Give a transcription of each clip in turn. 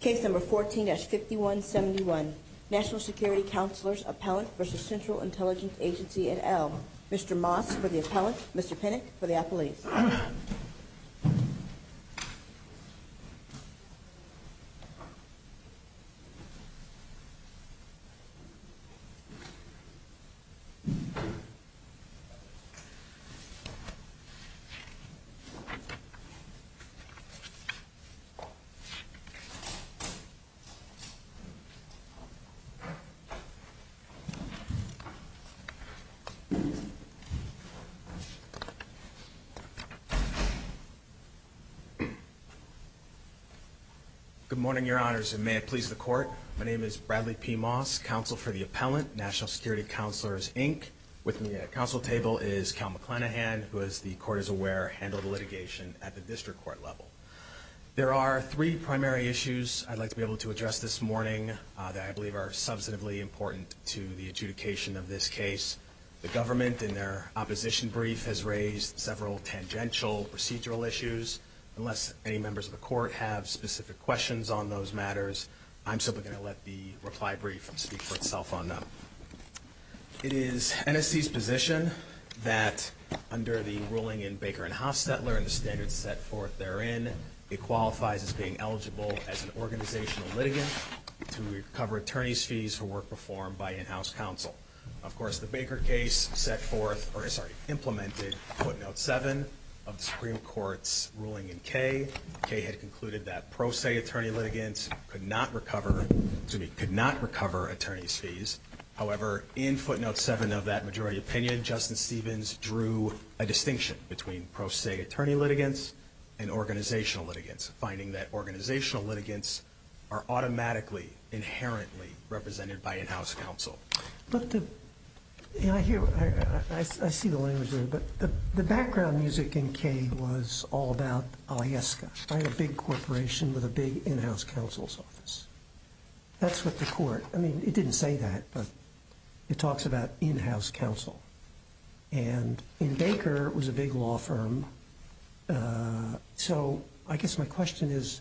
Case No. 14-5171, National Security Counselors Appellant v. Central Intelligence Agency et al. Mr. Moss for the Appellant, Mr. Pinnock for the Appellant. Good morning, Your Honors, and may it please the Court. My name is Bradley P. Moss, Counsel for the Appellant, National Security Counselors, Inc. With me at the Counsel table is Cal McClanahan, who, as the Court is aware, handled litigation at the district court level. There are three primary issues I'd like to be able to address this morning that I believe are substantively important to the adjudication of this case. The government, in their opposition brief, has raised several tangential procedural issues. Unless any members of the Court have specific questions on those matters, I'm simply going to let the reply brief speak for itself on It is NSC's position that, under the ruling in Baker v. Hofstetler and the standards set forth therein, it qualifies as being eligible as an organizational litigant to recover attorney's fees for work performed by in-house counsel. Of course, the Baker case set forth, or, sorry, implemented Footnote 7 of the Supreme Court's ruling in K. K. had concluded that pro se attorney litigants could not recover, excuse me, could not recover attorney's fees. However, in Footnote 7 of that majority opinion, Justin Stevens drew a distinction between pro se attorney litigants and organizational litigants, finding that organizational litigants are automatically, inherently represented by in-house counsel. But the, you know, I hear, I see the language there, but the background music in K. was all about AIESCA, right? A big corporation with a big in-house counsel's office. That's what the Court, I mean, it didn't say that, but it talks about in-house counsel. And in Baker, it was a big law firm, so I guess my question is,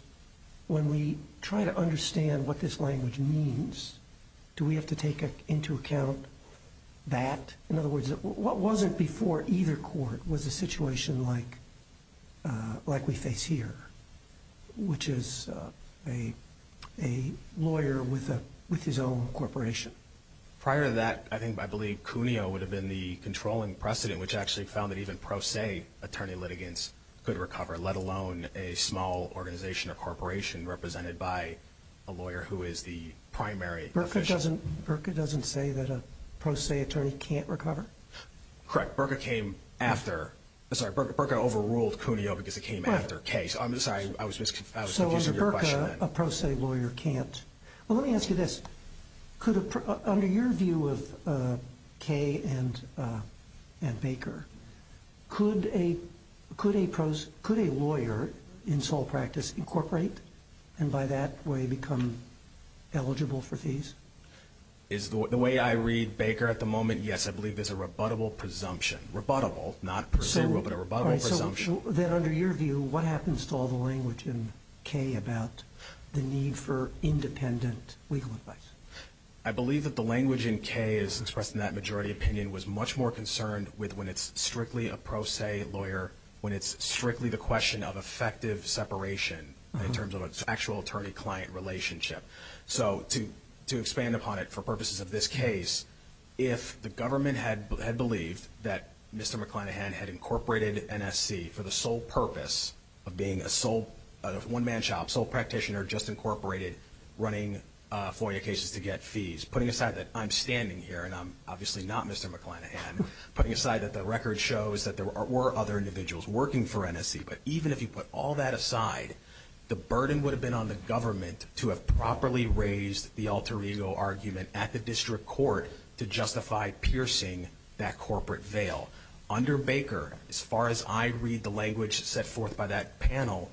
when we try to understand what this language means, do we have to take into account that? In other words, what was it like we face here, which is a lawyer with his own corporation? Prior to that, I think, I believe Cuneo would have been the controlling precedent, which actually found that even pro se attorney litigants could recover, let alone a small organization or corporation represented by a lawyer who is the primary official. Berka doesn't say that a pro se attorney can't recover? Correct. Berka came after, sorry, Berka overruled Cuneo because it came after K. So I'm sorry, I was confused with your question. So Berka, a pro se lawyer can't. Well, let me ask you this. Under your view of K. and Baker, could a lawyer in sole practice incorporate and by that way become eligible for fees? Is the way I read Baker at the moment, yes, I believe there's a rebuttable presumption. Rebuttable, not procedural, but a rebuttable presumption. So then under your view, what happens to all the language in K. about the need for independent legal advice? I believe that the language in K. is expressed in that majority opinion was much more concerned with when it's strictly a pro se lawyer, when it's strictly the question of effective separation in terms of an actual attorney client relationship. So to expand upon it for purposes of this case, if the government had believed that Mr. McClanahan had incorporated NSC for the sole purpose of being a one man shop, sole practitioner, just incorporated running FOIA cases to get fees, putting aside that I'm standing here and I'm obviously not Mr. McClanahan, putting aside that the record shows that there were other individuals working for NSC, but even if you put all that aside, the burden would have been on the government to have properly raised the alter ego argument at the district court to justify piercing that corporate veil. Under Baker, as far as I read the language set forth by that panel,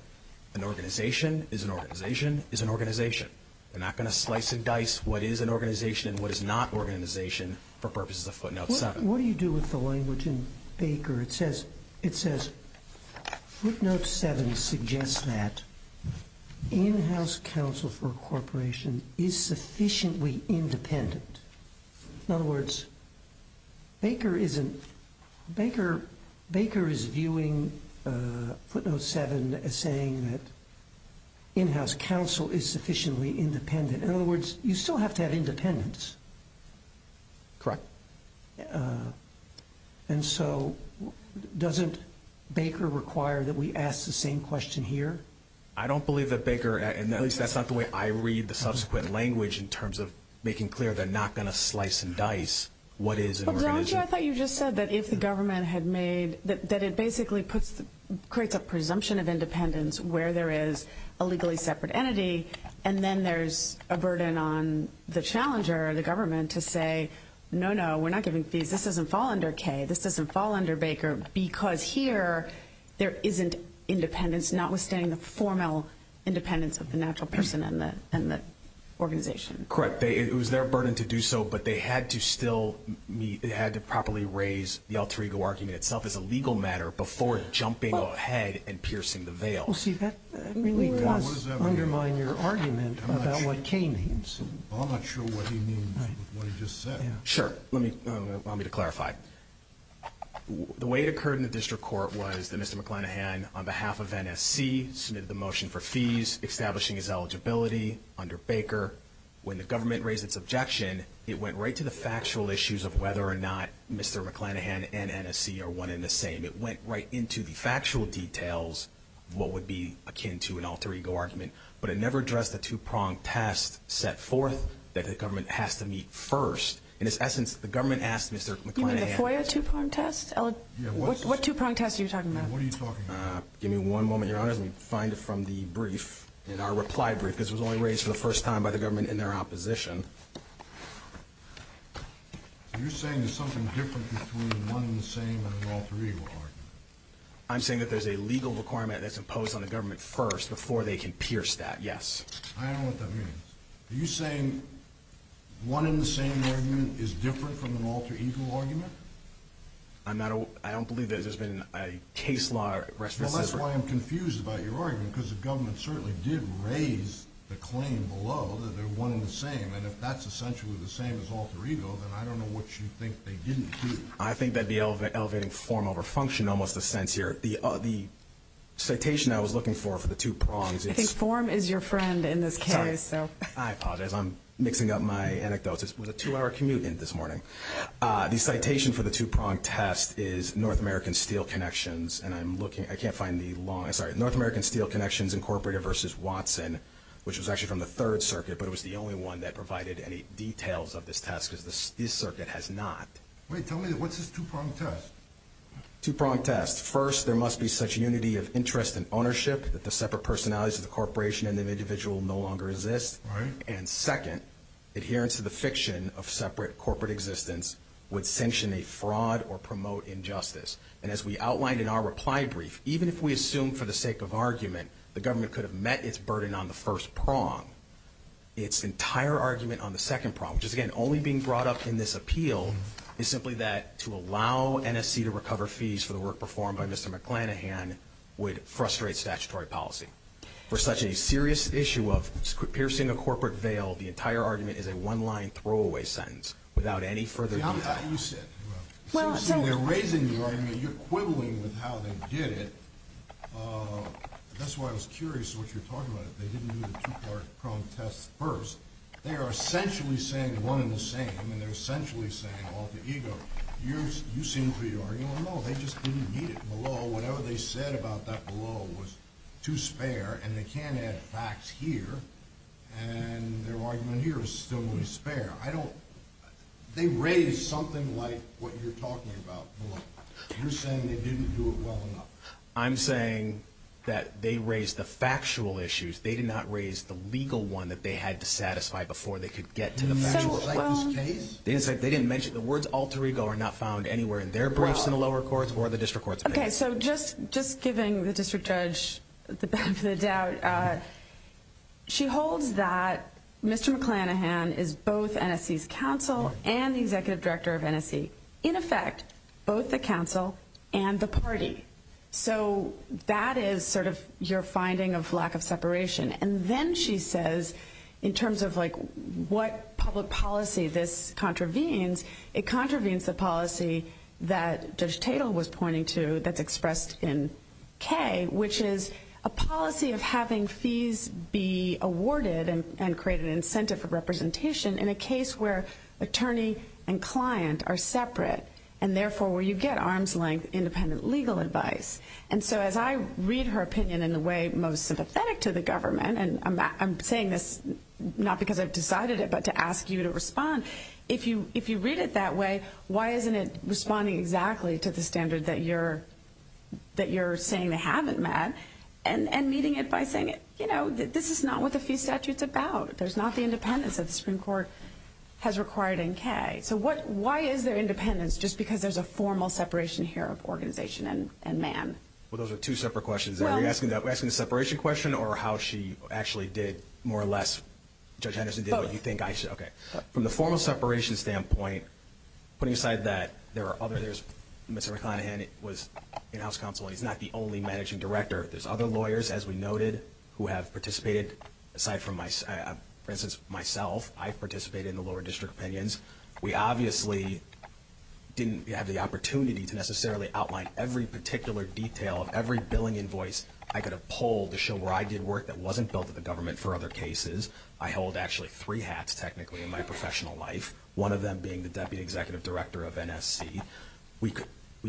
an organization is an organization is an organization. They're not going to slice and dice what is an organization and what is not organization for purposes of footnotes. What do you do with the language in Baker? It says, it says footnotes seven suggests that in-house counsel for a corporation is sufficiently independent. In other words, Baker isn't Baker. Baker is viewing a footnote seven as saying that in-house counsel is sufficiently independent. In other words, you still have to have independence. Correct. And so doesn't Baker require that we ask the same question here? I don't believe that Baker, and at least that's not the way I read the subsequent language in terms of making clear they're not going to slice and dice what is an organization. I thought you just said that if the government had made that, that it basically puts, creates a presumption of independence where there is a legally separate entity, and then there's a burden on the challenger, the government, to say, no, no, we're not giving fees. This doesn't fall under Kay. This doesn't fall under Baker because here there isn't independence, notwithstanding the formal independence of the natural person and the organization. Correct. It was their burden to do so, but they had to still, it had to properly raise the alter ego argument itself as a legal matter before jumping ahead and piercing the veil. Well, see, that really does undermine your argument about what Kay means. I'm not sure what he means with what he just said. Sure. Let me, allow me to clarify. The way it occurred in the district court was that Mr. McClanahan, on behalf of NSC, submitted the motion for fees, establishing his eligibility under Baker. When the government raised its objection, it went right to the factual issues of whether or not Mr. McClanahan and NSC are one and the same. It went right into the factual details of what would be akin to an alter ego argument, but it never addressed the two-pronged test set forth that the government has to meet first. In its essence, the government asked Mr. McClanahan. You mean the FOIA two-pronged test? What two-pronged test are you talking about? What are you talking about? Give me one moment, Your Honor. Let me find it from the brief, in our reply brief, because it was only raised for the first time by the government in their opposition. You're saying there's something different between one and the same and an alter ego argument? I'm saying that there's a legal requirement that's imposed on the government first before they can pierce that, yes. I don't know what that means. Are you saying one and the same argument is different from an alter ego argument? I don't believe that there's been a case law or a restitution. Well, that's why I'm confused about your argument, because the government certainly did raise the claim below that they're one and the same, and if that's essentially the same as alter ego, then I don't know what you think they didn't do. I think that the elevating form over function almost makes sense here. The citation I was looking for for the two-pronged test is North American Steel Connections Incorporated versus Watson, which was actually from the Third Circuit, but it was the only one that provided any details of this test, because this circuit has not. Wait, tell me, what's this two-pronged test? Two-pronged test. First, there must be such unity of interest and ownership that the separate personalities of the corporation and the individual no longer exist, and second, adherence to the fiction of separate corporate existence would sanction a fraud or promote injustice, and as we outlined in our reply brief, even if we assume for the sake of argument the government could have met its burden on the first prong, its entire argument on the second prong, which is, again, only being brought up in this appeal, is simply that to allow NSC to recover fees for the work performed by Mr. McClanahan would frustrate statutory policy. For such a serious issue of piercing a corporate veil, the entire argument is a one-line throwaway sentence without any further detail. Yeah, you said, well, so they're raising the argument, you're quibbling with how they did it. That's why I was curious what you're talking about, they didn't do the two-pronged test first. They are essentially saying one and the same, and they're essentially saying, well, to EGLE, you seem to be arguing, well, no, they just didn't need it below. Whatever they said about that below was too spare, and they can't add facts here, and their argument here is still only spare. I don't, they raised something like what you're talking about below. You're saying they didn't do it well enough. I'm saying that they raised the factual issues, they did not raise the legal one that they had to satisfy before they could get to the factual case. They didn't mention, the words alter ego are not found anywhere in their briefs in the lower courts or the district courts. Okay, so just giving the district judge the benefit of the doubt, she holds that Mr. McClanahan is both NSC's counsel and the executive director of NSC. In effect, both the counsel and the party. So, that is sort of your finding of lack of separation. And then she says, in terms of like what public policy this contravenes, it contravenes the policy that Judge Tatel was pointing to that's expressed in K, which is a policy of having fees be awarded and create an incentive for representation in a case where attorney and client are separate, and therefore where you get arm's length independent legal advice. And so, as I read her opinion in the way most sympathetic to the government, and I'm saying this not because I've decided it, but to ask you to respond. If you read it that way, why isn't it responding exactly to the standard that you're saying they haven't met, and meeting it by saying, you know, this is not what the fee statute's about. There's not the independence that the Supreme Court has required in K. So, why is there independence? Just because there's a formal separation here of organization and man. Well, those are two separate questions. Are you asking the separation question, or how she actually did more or less Judge Henderson did what you think I should? Both. Okay. From the formal separation standpoint, putting aside that there are others, Mr. McConaghan was in House Counsel, and he's not the only managing director. There's other lawyers, as we noted, who have participated, aside from, for instance, myself. I've participated in the lower district opinions. We obviously didn't have the opportunity to necessarily outline every particular detail of every billing invoice I could have pulled to show where I did work that wasn't built to the government for other cases. I hold, actually, three hats, technically, in my professional life, one of them being the Deputy Executive Director of NSC.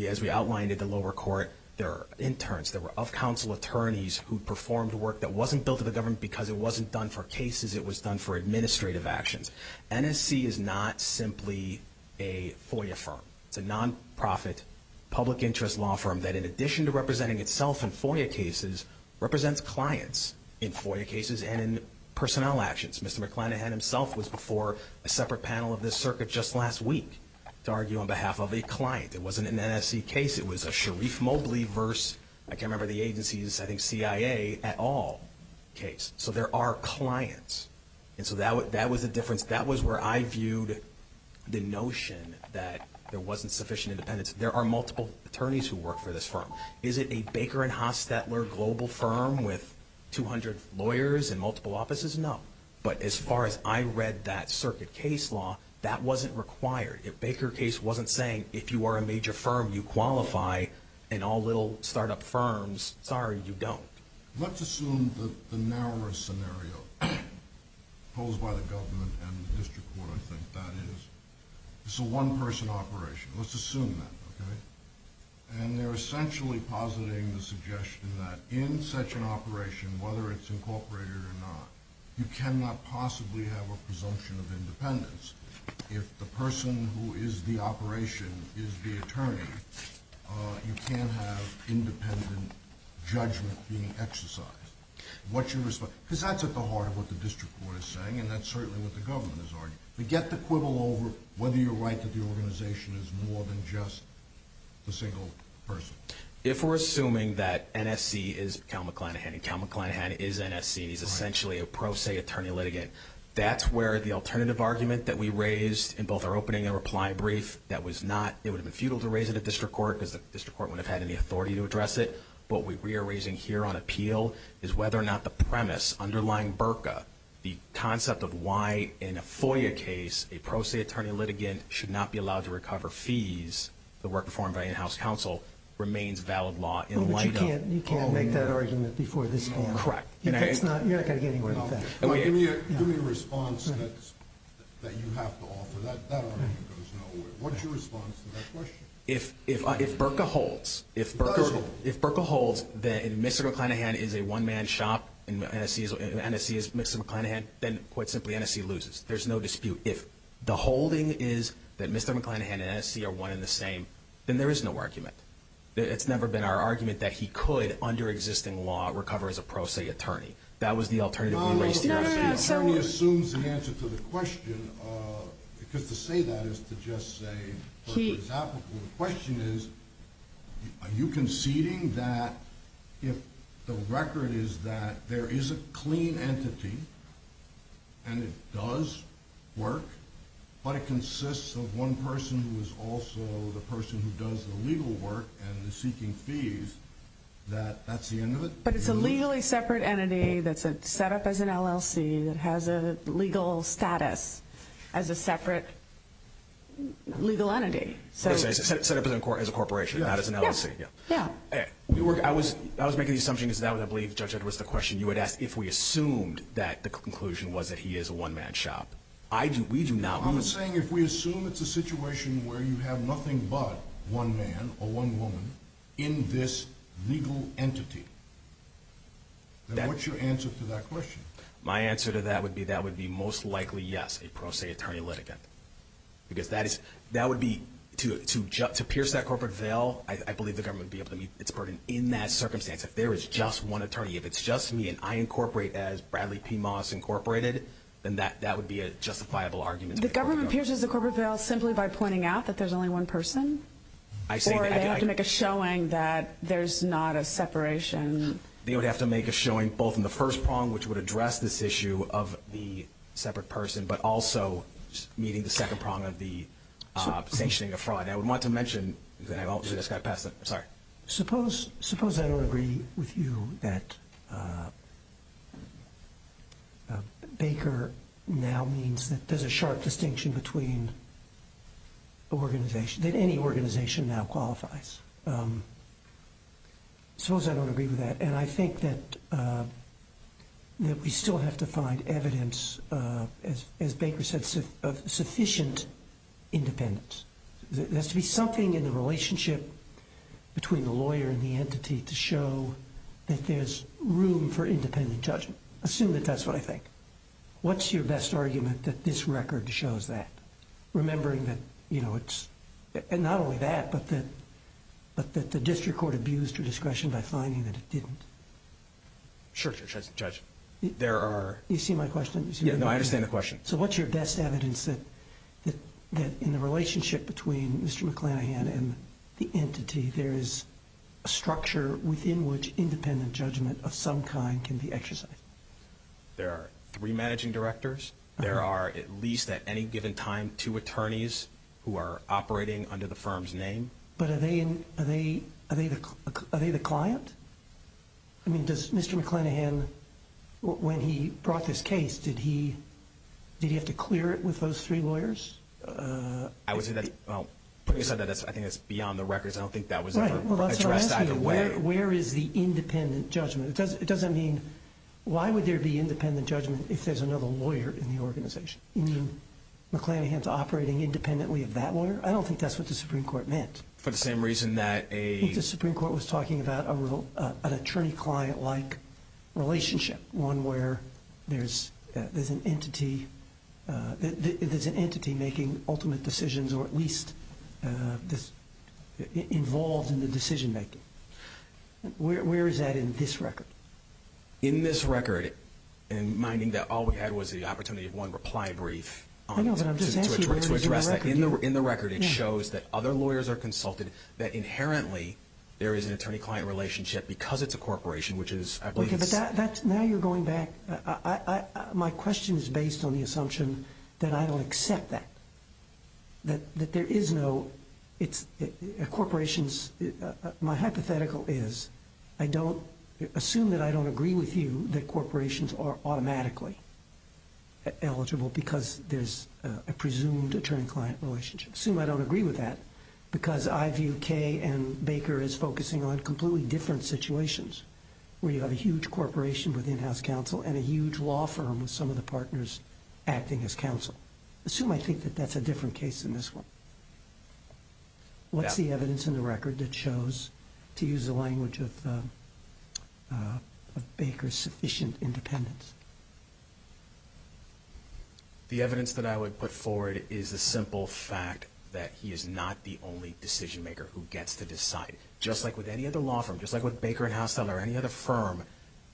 As we outlined at the lower court, there are interns, there were up-counsel attorneys who performed work that wasn't built to the government because it wasn't done for cases, it was done for administrative actions. NSC is not simply a FOIA firm. It's a non-profit public interest law firm that, in addition to representing itself in FOIA cases, represents clients in FOIA cases and in personnel actions. Mr. McConaghan himself was before a separate panel of this circuit just last week to argue on behalf of a client. It wasn't an NSC case, it was a Sharif Mowgli versus, I can't remember the agency's, I think CIA at all case. So, there are clients. And so, that was the difference. That was where I viewed the notion that there wasn't sufficient independence. There are multiple attorneys who work for this firm. Is it a Baker and Hostetler global firm with 200 lawyers and multiple offices? No. But as far as I read that circuit case law, that wasn't required. If Baker case wasn't saying, if you are a major firm, you qualify, and all little start-up firms, sorry, you don't. Let's assume that the narrower scenario posed by the government and the district court, I think that is, it's a one-person operation. Let's assume that, okay? And they're essentially positing the suggestion that in such an operation, whether it's incorporated or not, you cannot possibly have a presumption of independence. If the person who is the operation is the attorney, you can't have independent judgment being exercised. What's your response? Because that's at the heart of what the district court is saying, and that's certainly what the government is arguing. Forget the quibble over whether you're right that the organization is more than just the single person. If we're assuming that NSC is Cal McClanahan, and Cal McClanahan is NSC, and he's essentially a pro se attorney litigant, that's where the alternative argument that we raised in both our opening and reply brief, that was not, it would have been futile to raise it at district court, because the district court wouldn't have had any authority to address it. What we are raising here on appeal is whether or not the premise underlying BRCA, the concept of why in a FOIA case, a pro se attorney litigant should not be allowed to recover fees that were performed by in-house counsel, remains valid law in light of- Well, but you can't make that argument before this panel. Correct. You're not going to get anywhere with that. Give me a response that you have to offer. That argument goes nowhere. What's your response to that question? If BRCA holds, if BRCA holds that Mr. McClanahan is a one-man shop, and NSC is Mr. McClanahan, then quite simply, NSC loses. There's no dispute. If the holding is that Mr. McClanahan and NSC are one and the same, then there is no argument. It's never been our argument that he could, under existing law, recover as a pro se attorney. That was the alternative- No, no, no. The attorney assumes the answer to the question, because to say that is to just say, for example, the question is, are you conceding that if the record is that there is a clean entity and it does work, but it consists of one person who is also the person who does the legal work and is seeking fees, that that's the end of it? But it's a legally separate entity that's set up as an LLC that has a legal status as a separate legal entity. Set up as a corporation, not as an LLC. Yeah. I was making the assumption, because that was, I believe, Judge Edwards, the question you had asked if we assumed that the conclusion was that he is a one-man shop. I do. We do not. I'm saying if we assume it's a situation where you have nothing but one man or one woman in this legal entity, then what's your answer to that question? My answer to that would be that would be most likely, yes, a pro se attorney litigant. Because that would be, to pierce that corporate veil, I believe the government would be able to meet its burden in that circumstance. If there is just one attorney, if it's just me and I incorporate as Bradley P. Moss Incorporated, then that would be a justifiable argument. The government pierces the corporate veil simply by pointing out that there's only one person? I say that. Or they have to make a showing that there's not a separation. They would have to make a showing, both in the first prong, which would address this issue of the separate person, but also meeting the second prong of the sanctioning of fraud. I would want to mention that I just got past that. Sorry. Suppose I don't agree with you that Baker now means that there's a sharp distinction between organizations, that any organization now qualifies. Suppose I don't agree with that. And I think that we still have to find evidence, as Baker said, of sufficient independence. There has to be something in the relationship between the lawyer and the entity to show that there's room for independent judgment. Assume that that's what I think. What's your best argument that this record shows that? Remembering that it's not only that, but that the district court abused your discretion by finding that it didn't. Sure, Judge. There are... You see my question? Yeah, I understand the question. So what's your best evidence that in the relationship between Mr. McClanahan and the entity, there is a structure within which independent judgment of some kind can be exercised? There are three managing directors. There are, at least at any given time, two attorneys who are operating under the firm's name. But are they the client? I mean, does Mr. McClanahan, when he brought this case, did he have to clear it with those three lawyers? I would say that's... Putting aside that, I think that's beyond the records. I don't think that was ever addressed either way. Right. Well, that's what I'm asking you. Where is the independent judgment? It doesn't mean... Why would there be independent judgment if there's another lawyer in the organization? You mean McClanahan's operating independently of that lawyer? I don't think that's what the Supreme Court meant. For the same reason that a... An attorney-client-like relationship, one where there's an entity making ultimate decisions or at least involved in the decision-making. Where is that in this record? In this record, and minding that all we had was the opportunity of one reply brief... I know, but I'm just asking... To address that. In the record, it shows that other lawyers are consulted, that inherently there is an entity that, because it's a corporation, which is... Okay, but that's... Now you're going back... I... My question is based on the assumption that I don't accept that. That there is no... It's... A corporation's... My hypothetical is, I don't... Assume that I don't agree with you that corporations are automatically eligible because there's a presumed attorney-client relationship. Assume I don't agree with that because I view Kay and Baker as focusing on completely different situations where you have a huge corporation with in-house counsel and a huge law firm with some of the partners acting as counsel. Assume I think that that's a different case than this one. What's the evidence in the record that shows, to use the language of Baker's sufficient independence? The evidence that I would put forward is the simple fact that he is not the only decision-maker who gets to decide. Just like with any other law firm, just like with Baker and Houseteller or any other firm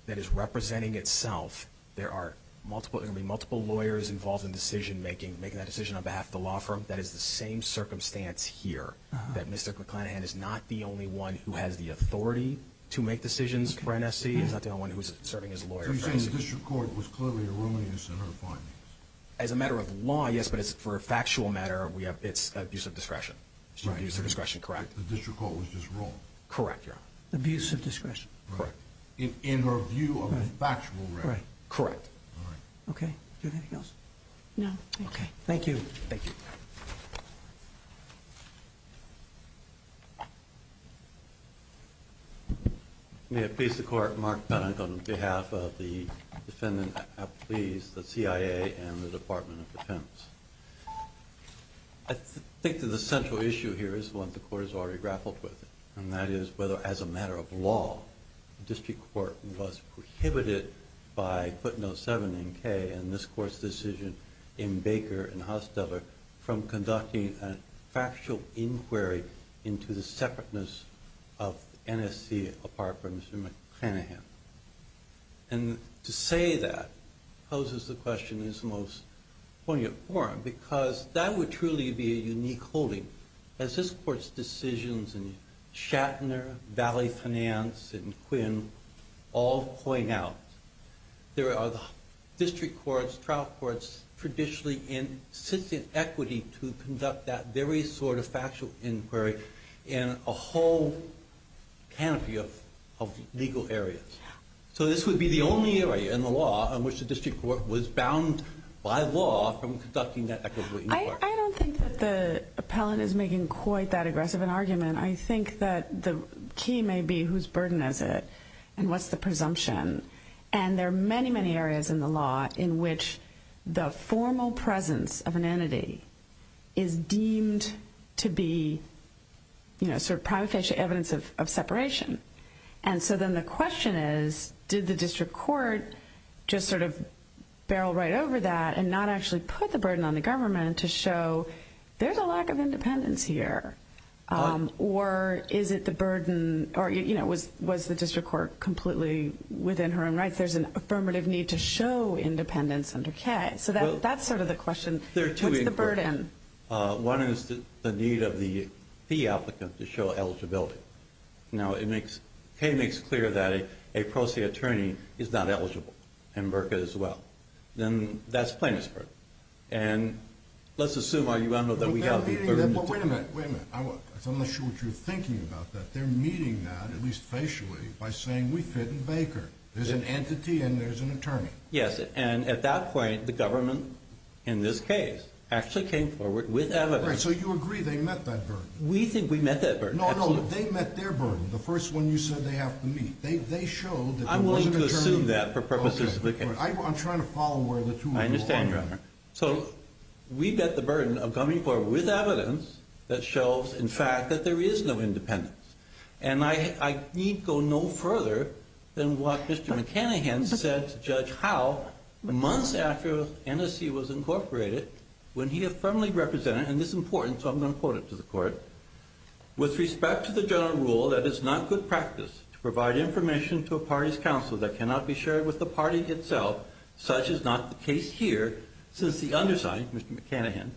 that is representing itself, there are multiple lawyers involved in decision-making, making that decision on behalf of the law firm. That is the same circumstance here, that Mr. McClanahan is not the only one who has the authority to make decisions for NSC. He's not the only one who's serving as a lawyer for NSC. So you're saying the district court was clearly erroneous in her findings? As a matter of law, yes, but for a factual matter, it's abuse of discretion. Right. Abuse of discretion. Correct. The district court was just wrong. Correct, Your Honor. Abuse of discretion. Correct. In her view of a factual matter. Right. Correct. All right. Okay. Do you have anything else? No, thank you. Okay. Thank you. Thank you. May it please the Court, Mark Bennett on behalf of the defendant, please, the CIA and the Department of Defense. I think that the central issue here is one the Court has already grappled with, and that is whether, as a matter of law, the district court was prohibited by footnote 7 in K and this Court's decision in Baker and Hosteller from conducting a factual inquiry into the separateness of NSC apart from Mr. McClanahan. And to say that poses the question in its most poignant form, because that would truly be a unique holding. As this Court's decisions in Shatner, Valley Finance, and Quinn all point out, there are the district courts, trial courts, traditionally in, sits in equity to conduct that very sort of factual inquiry in a whole canopy of legal areas. So this would be the only area in the law in which the district court was bound by law from conducting that equity inquiry. I don't think that the appellant is making quite that aggressive an argument. I think that the key may be whose burden is it and what's the presumption. And there are many, many areas in the law in which the formal presence of an entity is deemed to be, you know, sort of prima facie evidence of separation. And so then the question is, did the district court just sort of barrel right over that and not actually put the burden on the government to show there's a lack of independence here? Or is it the burden, or, you know, was the district court completely within her own rights? There's an affirmative need to show independence under K. So that's sort of the question. What's the burden? One is the need of the fee applicant to show eligibility. Now, K makes clear that a pro se attorney is not eligible, and Burka as well. Then that's plaintiff's burden. And let's assume, you all know that we have the burden. Wait a minute, wait a minute. I'm not sure what you're thinking about that. They're meeting that, at least facially, by saying we fit in Baker. There's an entity and there's an attorney. Yes, and at that point, the government, in this case, actually came forward with evidence. Right, so you agree they met that burden. We think we met that burden. No, no, they met their burden. The first one you said they have to meet. They showed that there was an attorney. I'm willing to assume that for purposes of the case. I'm trying to follow where the two of you are going. I understand, Your Honor. So we met the burden of coming forward with evidence that shows, in fact, that there is no independence. And I need go no further than what Mr. McCannaghan said to Judge Howe months after NSC was incorporated, when he had firmly represented, and this is important, so I'm going to quote it to the court, with respect to the general rule that it's not good practice to provide information to a party's counsel that cannot be shared with the party itself. Such is not the case here, since the underside, Mr. McCannaghan,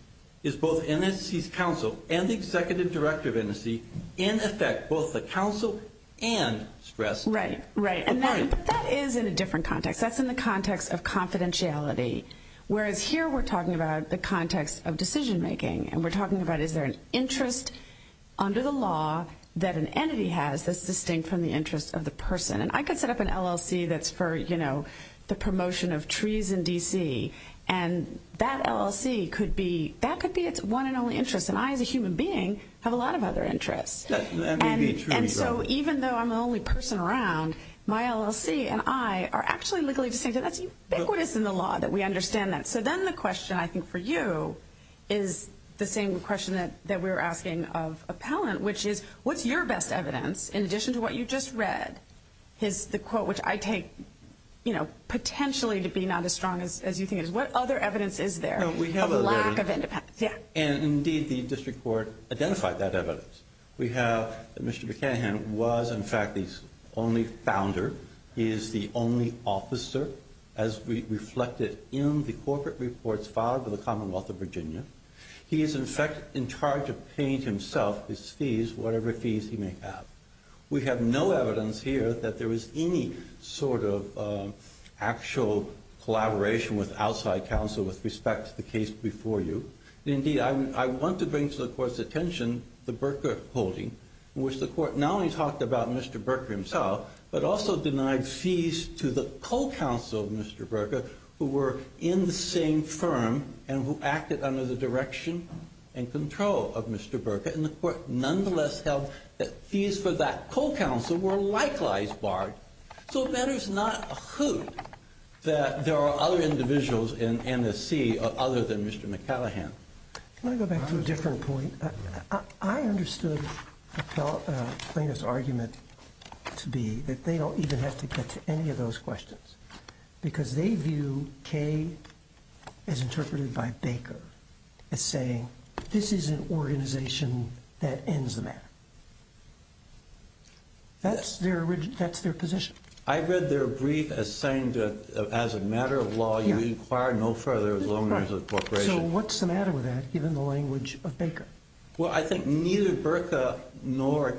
is both NSC's counsel and the executive director of NSC, in effect, both the counsel and stress. Right, right. But that is in a different context. That's in the context of confidentiality, whereas here we're talking about the context of decision-making, and we're talking about is there an interest under the law that an entity has that's distinct from the interest of the person. And I could set up an LLC that's for, you know, the promotion of trees in D.C., and that LLC could be, that could be its one and only interest, and I, as a human being, have a lot of other interests. And so even though I'm the only person around, my LLC and I are actually legally distinct, and that's ubiquitous in the law that we understand that. So then the question, I think, for you is the same question that we were asking of appellant, which is what's your best evidence, in addition to what you just read, is the quote, which I take, you know, potentially to be not as strong as you think it is. What other evidence is there of lack of independence? And, indeed, the district court identified that evidence. We have that Mr. McCann was, in fact, the only founder. He is the only officer, as reflected in the corporate reports filed by the Commonwealth of Virginia. He is, in fact, in charge of paying himself his fees, whatever fees he may have. We have no evidence here that there is any sort of actual collaboration with outside counsel with respect to the case before you. Indeed, I want to bring to the court's attention the Berker holding, in which the court not only talked about Mr. Berker himself, but also denied fees to the co-counsel of Mr. Berker, who were in the same firm and who acted under the direction and control of Mr. Berker. And the court nonetheless held that fees for that co-counsel were likewise barred. So it matters not a hoot that there are other individuals in NSC other than Mr. McCallaghan. Let me go back to a different point. I understood the plaintiff's argument to be that they don't even have to get to any of those questions because they view Kaye as interpreted by Baker as saying, this is an organization that ends the matter. That's their position. I read their brief as saying that as a matter of law, you inquire no further as long as it's corporation. So what's the matter with that, given the language of Baker? Well, I think neither Berker nor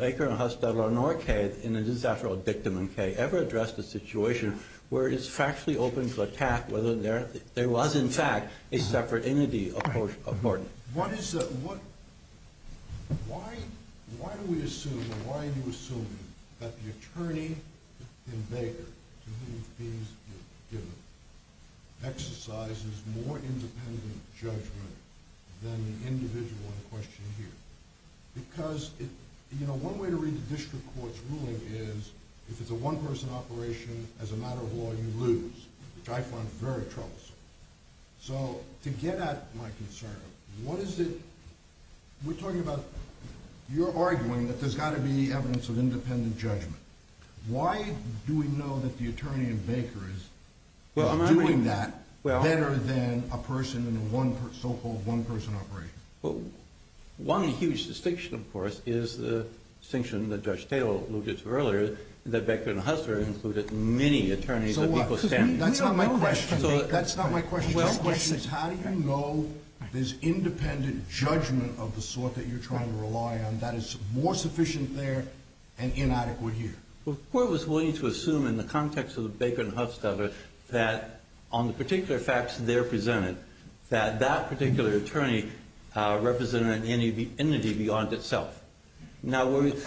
Baker nor Kaye, and it is, after all, Dictum and Kaye, ever addressed a situation where it is factually open to attack whether there was, in fact, a separate entity of court. Why do we assume or why are you assuming that the attorney in Baker, to whom the fees were given, exercises more independent judgment than the individual on the question here? Because one way to read the district court's ruling is if it's a one-person operation, as a matter of law, you lose, which I find very troublesome. So to get at my concern, what is it? We're talking about you're arguing that there's got to be evidence of independent judgment. Why do we know that the attorney in Baker is doing that better than a person in a so-called one-person operation? Well, one huge distinction, of course, is the distinction that Judge Taylor alluded to earlier, that Baker and Huffstetter included many attorneys of equal standing. So what? That's not my question. That's not my question. My question is how do you know there's independent judgment of the sort that you're trying to rely on that is more sufficient there and inadequate here? Well, the court was willing to assume in the context of the Baker and Huffstetter that on the particular facts they're presented, that that particular attorney represented an entity beyond itself. Now, Mr.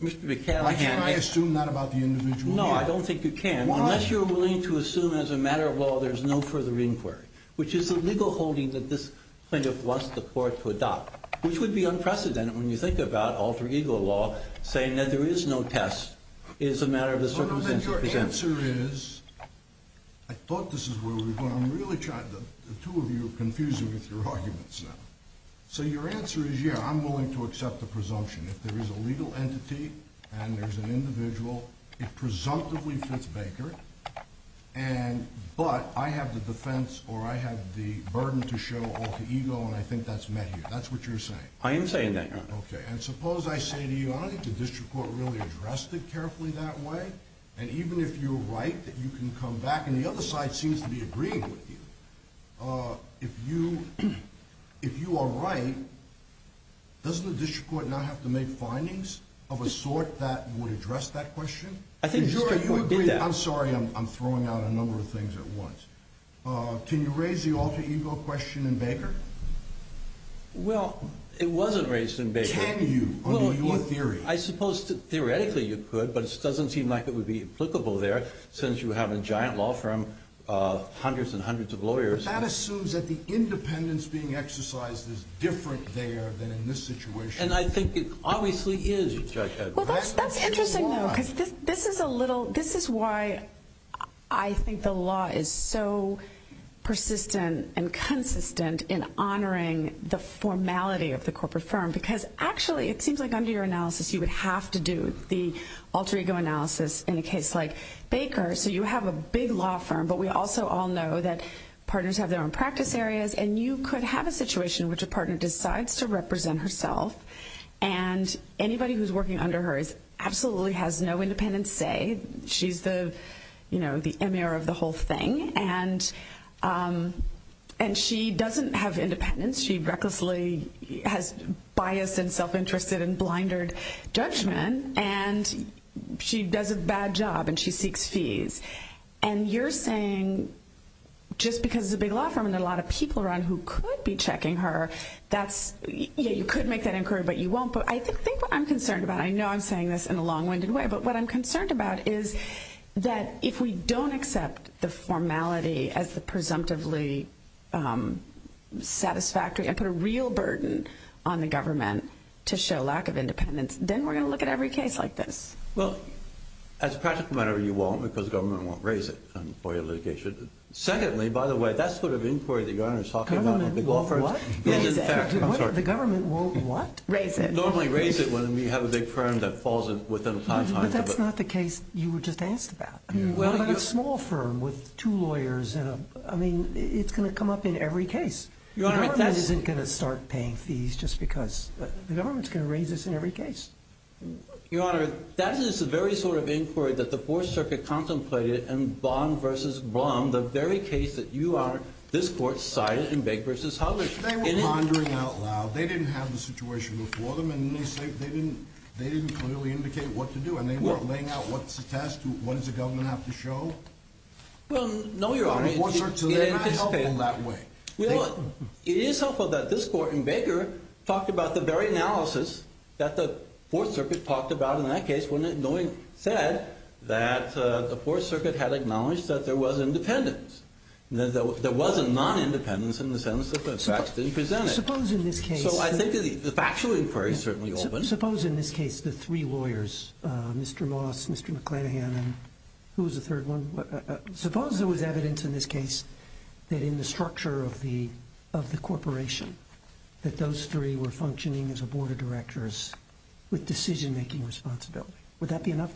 McCallaghan asks you. Why should I assume that about the individual here? No, I don't think you can. Why? Unless you're willing to assume as a matter of law there's no further inquiry, which is the legal holding that this plaintiff wants the court to adopt, which would be unprecedented when you think about alter ego law saying that there is no test. It is a matter of the circumstances presented. The answer is, I thought this is where we were going. I'm really trying to, the two of you are confusing with your arguments now. So your answer is, yeah, I'm willing to accept the presumption. If there is a legal entity and there's an individual, it presumptively fits Baker, but I have the defense or I have the burden to show alter ego and I think that's met here. That's what you're saying. I am saying that, Your Honor. Okay. And suppose I say to you, I don't think the district court really addressed it carefully that way, and even if you're right that you can come back and the other side seems to be agreeing with you. If you are right, doesn't the district court now have to make findings of a sort that would address that question? I think the district court did that. I'm sorry, I'm throwing out a number of things at once. Can you raise the alter ego question in Baker? Well, it wasn't raised in Baker. Can you, under your theory? I suppose theoretically you could, but it doesn't seem like it would be applicable there, since you have a giant law firm, hundreds and hundreds of lawyers. That assumes that the independence being exercised is different there than in this situation. And I think it obviously is, Judge Edwards. Well, that's interesting, though, because this is a little, this is why I think the law is so persistent and consistent in honoring the formality of the corporate firm, because actually it seems like under your analysis you would have to do the alter ego analysis in a case like Baker. So you have a big law firm, but we also all know that partners have their own practice areas, and you could have a situation in which a partner decides to represent herself, and anybody who's working under her absolutely has no independence say. She's the M.A.R. of the whole thing, and she doesn't have independence. She recklessly has biased and self-interested and blinded judgment, and she does a bad job and she seeks fees. And you're saying just because it's a big law firm and there are a lot of people around who could be checking her, that's, yeah, you could make that inquiry, but you won't. But I think what I'm concerned about, I know I'm saying this in a long-winded way, but what I'm concerned about is that if we don't accept the formality as the presumptively satisfactory and put a real burden on the government to show lack of independence, then we're going to look at every case like this. Well, as a practical matter, you won't, because the government won't raise it for your litigation. Secondly, by the way, that sort of inquiry that your Honor is talking about, the government won't what? Raise it. They normally raise it when we have a big firm that falls within a time frame. But that's not the case you were just asked about. What about a small firm with two lawyers? I mean, it's going to come up in every case. Your Honor, that's. The government isn't going to start paying fees just because. The government's going to raise this in every case. Your Honor, that is the very sort of inquiry that the Fourth Circuit contemplated in Baum v. Blum, the very case that you are, this Court, cited in Baker v. Huggins. They were pondering out loud. They didn't have the situation before them, and they didn't clearly indicate what to do. And they weren't laying out what's the test, what does the government have to show? Well, no, Your Honor. The Fourth Circuit, they're not helpful that way. Well, it is helpful that this Court in Baker talked about the very analysis that the Fourth Circuit talked about in that case, when it said that the Fourth Circuit had acknowledged that there was independence. There was a non-independence in the sense that the facts didn't present it. So I think the factual inquiry is certainly open. Suppose in this case the three lawyers, Mr. Moss, Mr. McClanahan, and who was the third one? Suppose there was evidence in this case that in the structure of the corporation that those three were functioning as a board of directors with decision-making responsibility. Would that be enough?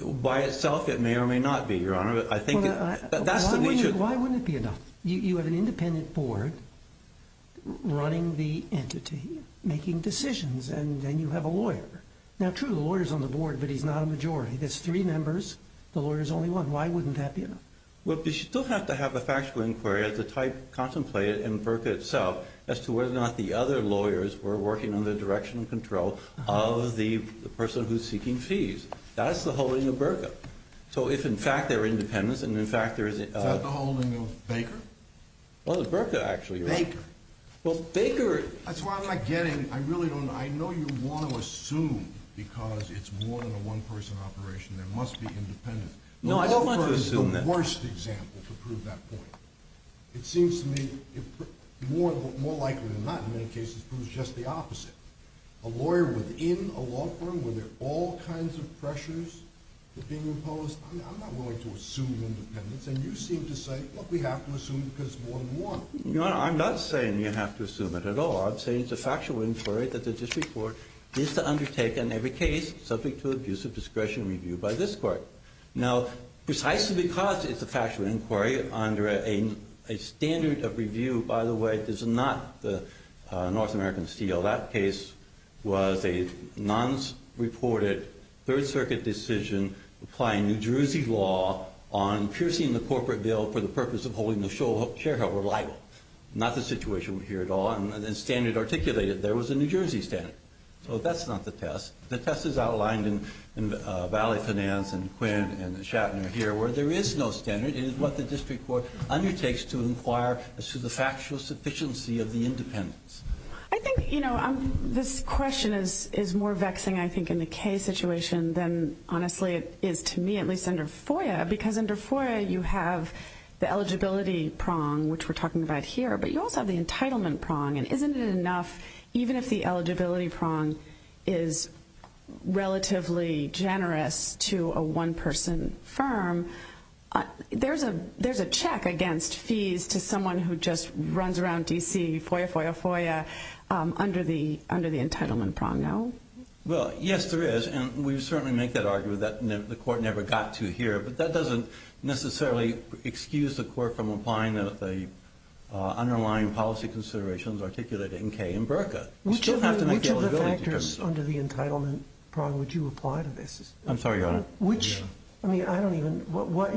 By itself, it may or may not be, Your Honor. Why wouldn't it be enough? You have an independent board running the entity, making decisions, and you have a lawyer. Now, true, the lawyer's on the board, but he's not a majority. There's three members. The lawyer's only one. Why wouldn't that be enough? Well, you still have to have a factual inquiry of the type contemplated in BRCA itself as to whether or not the other lawyers were working under the direction and control of the person who's seeking fees. That's the holding of BRCA. So if, in fact, they're independents and, in fact, there is a— Is that the holding of Baker? Well, it's BRCA, actually, Your Honor. Baker. Well, Baker— That's what I'm not getting. I really don't know. I know you want to assume, because it's more than a one-person operation, there must be independents. No, I don't want to assume that. The law firm is the worst example to prove that point. It seems to me more likely than not, in many cases, proves just the opposite. A lawyer within a law firm, where there are all kinds of pressures that are being imposed, I'm not willing to assume independents. And you seem to say, well, we have to assume because it's more than one. Your Honor, I'm not saying you have to assume it at all. I'm saying it's a factual inquiry that the district court needs to undertake in every case subject to abuse of discretion review by this court. Now, precisely because it's a factual inquiry under a standard of review, by the way, this is not the North American Steel. That case was a non-reported Third Circuit decision applying New Jersey law on piercing the corporate bill for the purpose of holding the shareholder liable. Not the situation here at all. And the standard articulated there was a New Jersey standard. So that's not the test. The test is outlined in Valley Finance and Quinn and Shatner here, where there is no standard. It is what the district court undertakes to inquire as to the factual sufficiency of the independents. I think, you know, this question is more vexing, I think, in the case situation than honestly it is to me, at least under FOIA, because under FOIA you have the eligibility prong, which we're talking about here, but you also have the entitlement prong. And isn't it enough, even if the eligibility prong is relatively generous to a one-person firm, there's a check against fees to someone who just runs around D.C., FOIA, FOIA, FOIA, under the entitlement prong now? Well, yes, there is. And we certainly make that argument that the court never got to here, but that doesn't necessarily excuse the court from applying the underlying policy considerations articulated in Kay and Berka. Which of the factors under the entitlement prong would you apply to this? I'm sorry, Your Honor. Which? I mean, I don't even.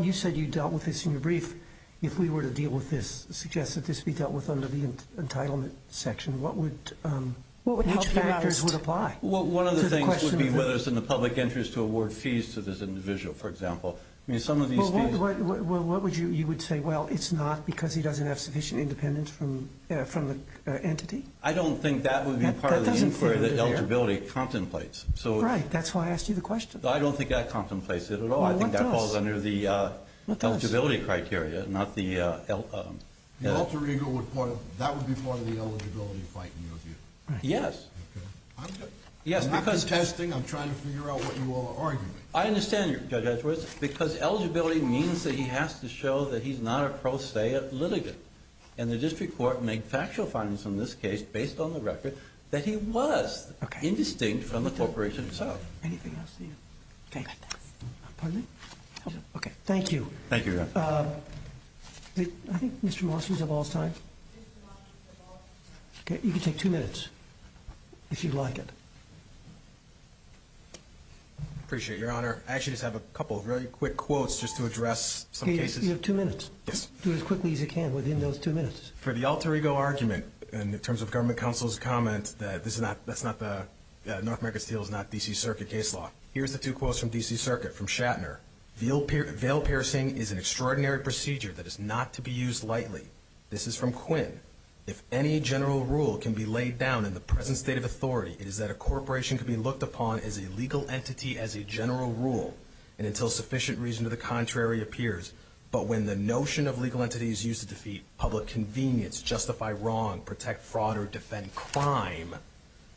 You said you dealt with this in your brief. If we were to deal with this, suggest that this be dealt with under the entitlement section, which factors would apply? One of the things would be whether it's in the public interest to award fees to this individual, for example. I mean, some of these fees. Well, what would you say? Well, it's not because he doesn't have sufficient independence from the entity? I don't think that would be part of the inquiry that eligibility contemplates. Right, that's why I asked you the question. I don't think that contemplates it at all. Well, what does? I think that falls under the eligibility criteria, not the... The alter ego, that would be part of the eligibility fight in your view? Yes. Okay. I'm not contesting. I'm trying to figure out what you all are arguing. I understand, Judge Edwards, because eligibility means that he has to show that he's not a pro se litigant. And the district court made factual findings in this case, based on the record, that he was indistinct from the corporation itself. Anything else to you? Okay. Pardon me? Okay. Thank you. Thank you, Your Honor. I think Mr. Moss was of all time. Mr. Moss was of all time. Okay. You can take two minutes, if you'd like it. I appreciate it, Your Honor. I actually just have a couple of really quick quotes just to address some cases. You have two minutes. Yes. Do it as quickly as you can within those two minutes. For the alter ego argument, in terms of government counsel's comment that this is not, that North America Steel is not D.C. Circuit case law. Here's the two quotes from D.C. Circuit, from Shatner. Veil piercing is an extraordinary procedure that is not to be used lightly. This is from Quinn. If any general rule can be laid down in the present state of authority, it is that a corporation can be looked upon as a legal entity as a general rule, and until sufficient reason to the contrary appears. But when the notion of legal entity is used to defeat public convenience, justify wrong, protect fraud, or defend crime,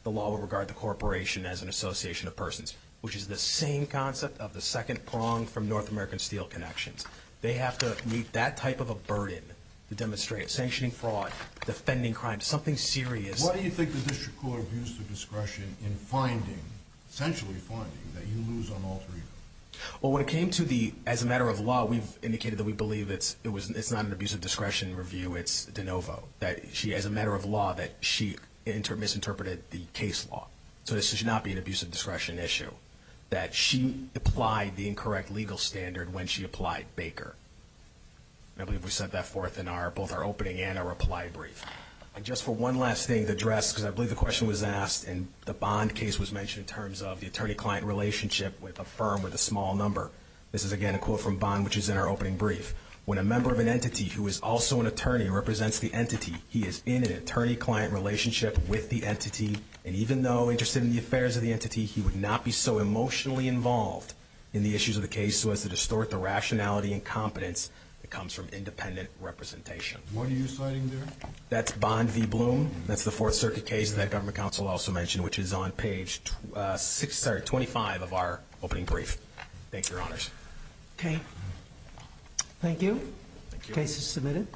the law will regard the corporation as an association of persons, which is the same concept of the second prong from North American Steel connections. They have to meet that type of a burden to demonstrate sanctioning fraud, defending crime, something serious. Why do you think the district court views the discretion in finding, essentially finding, that you lose on alter ego? Well, when it came to the, as a matter of law, we've indicated that we believe it's not an abuse of discretion review. It's de novo, that she, as a matter of law, that she misinterpreted the case law. So this should not be an abuse of discretion issue, that she applied the incorrect legal standard when she applied Baker. I believe we set that forth in both our opening and our reply brief. Just for one last thing to address, because I believe the question was asked and the Bond case was mentioned in terms of the attorney-client relationship with a firm with a small number. This is, again, a quote from Bond, which is in our opening brief. When a member of an entity who is also an attorney represents the entity, he is in an attorney-client relationship with the entity, and even though interested in the affairs of the entity, he would not be so emotionally involved in the issues of the case so as to distort the rationality and competence that comes from independent representation. What are you citing there? That's Bond v. Bloom. That's the Fourth Circuit case that the government counsel also mentioned, which is on page 25 of our opening brief. Thank you, Your Honors. Okay. Thank you. The case is submitted.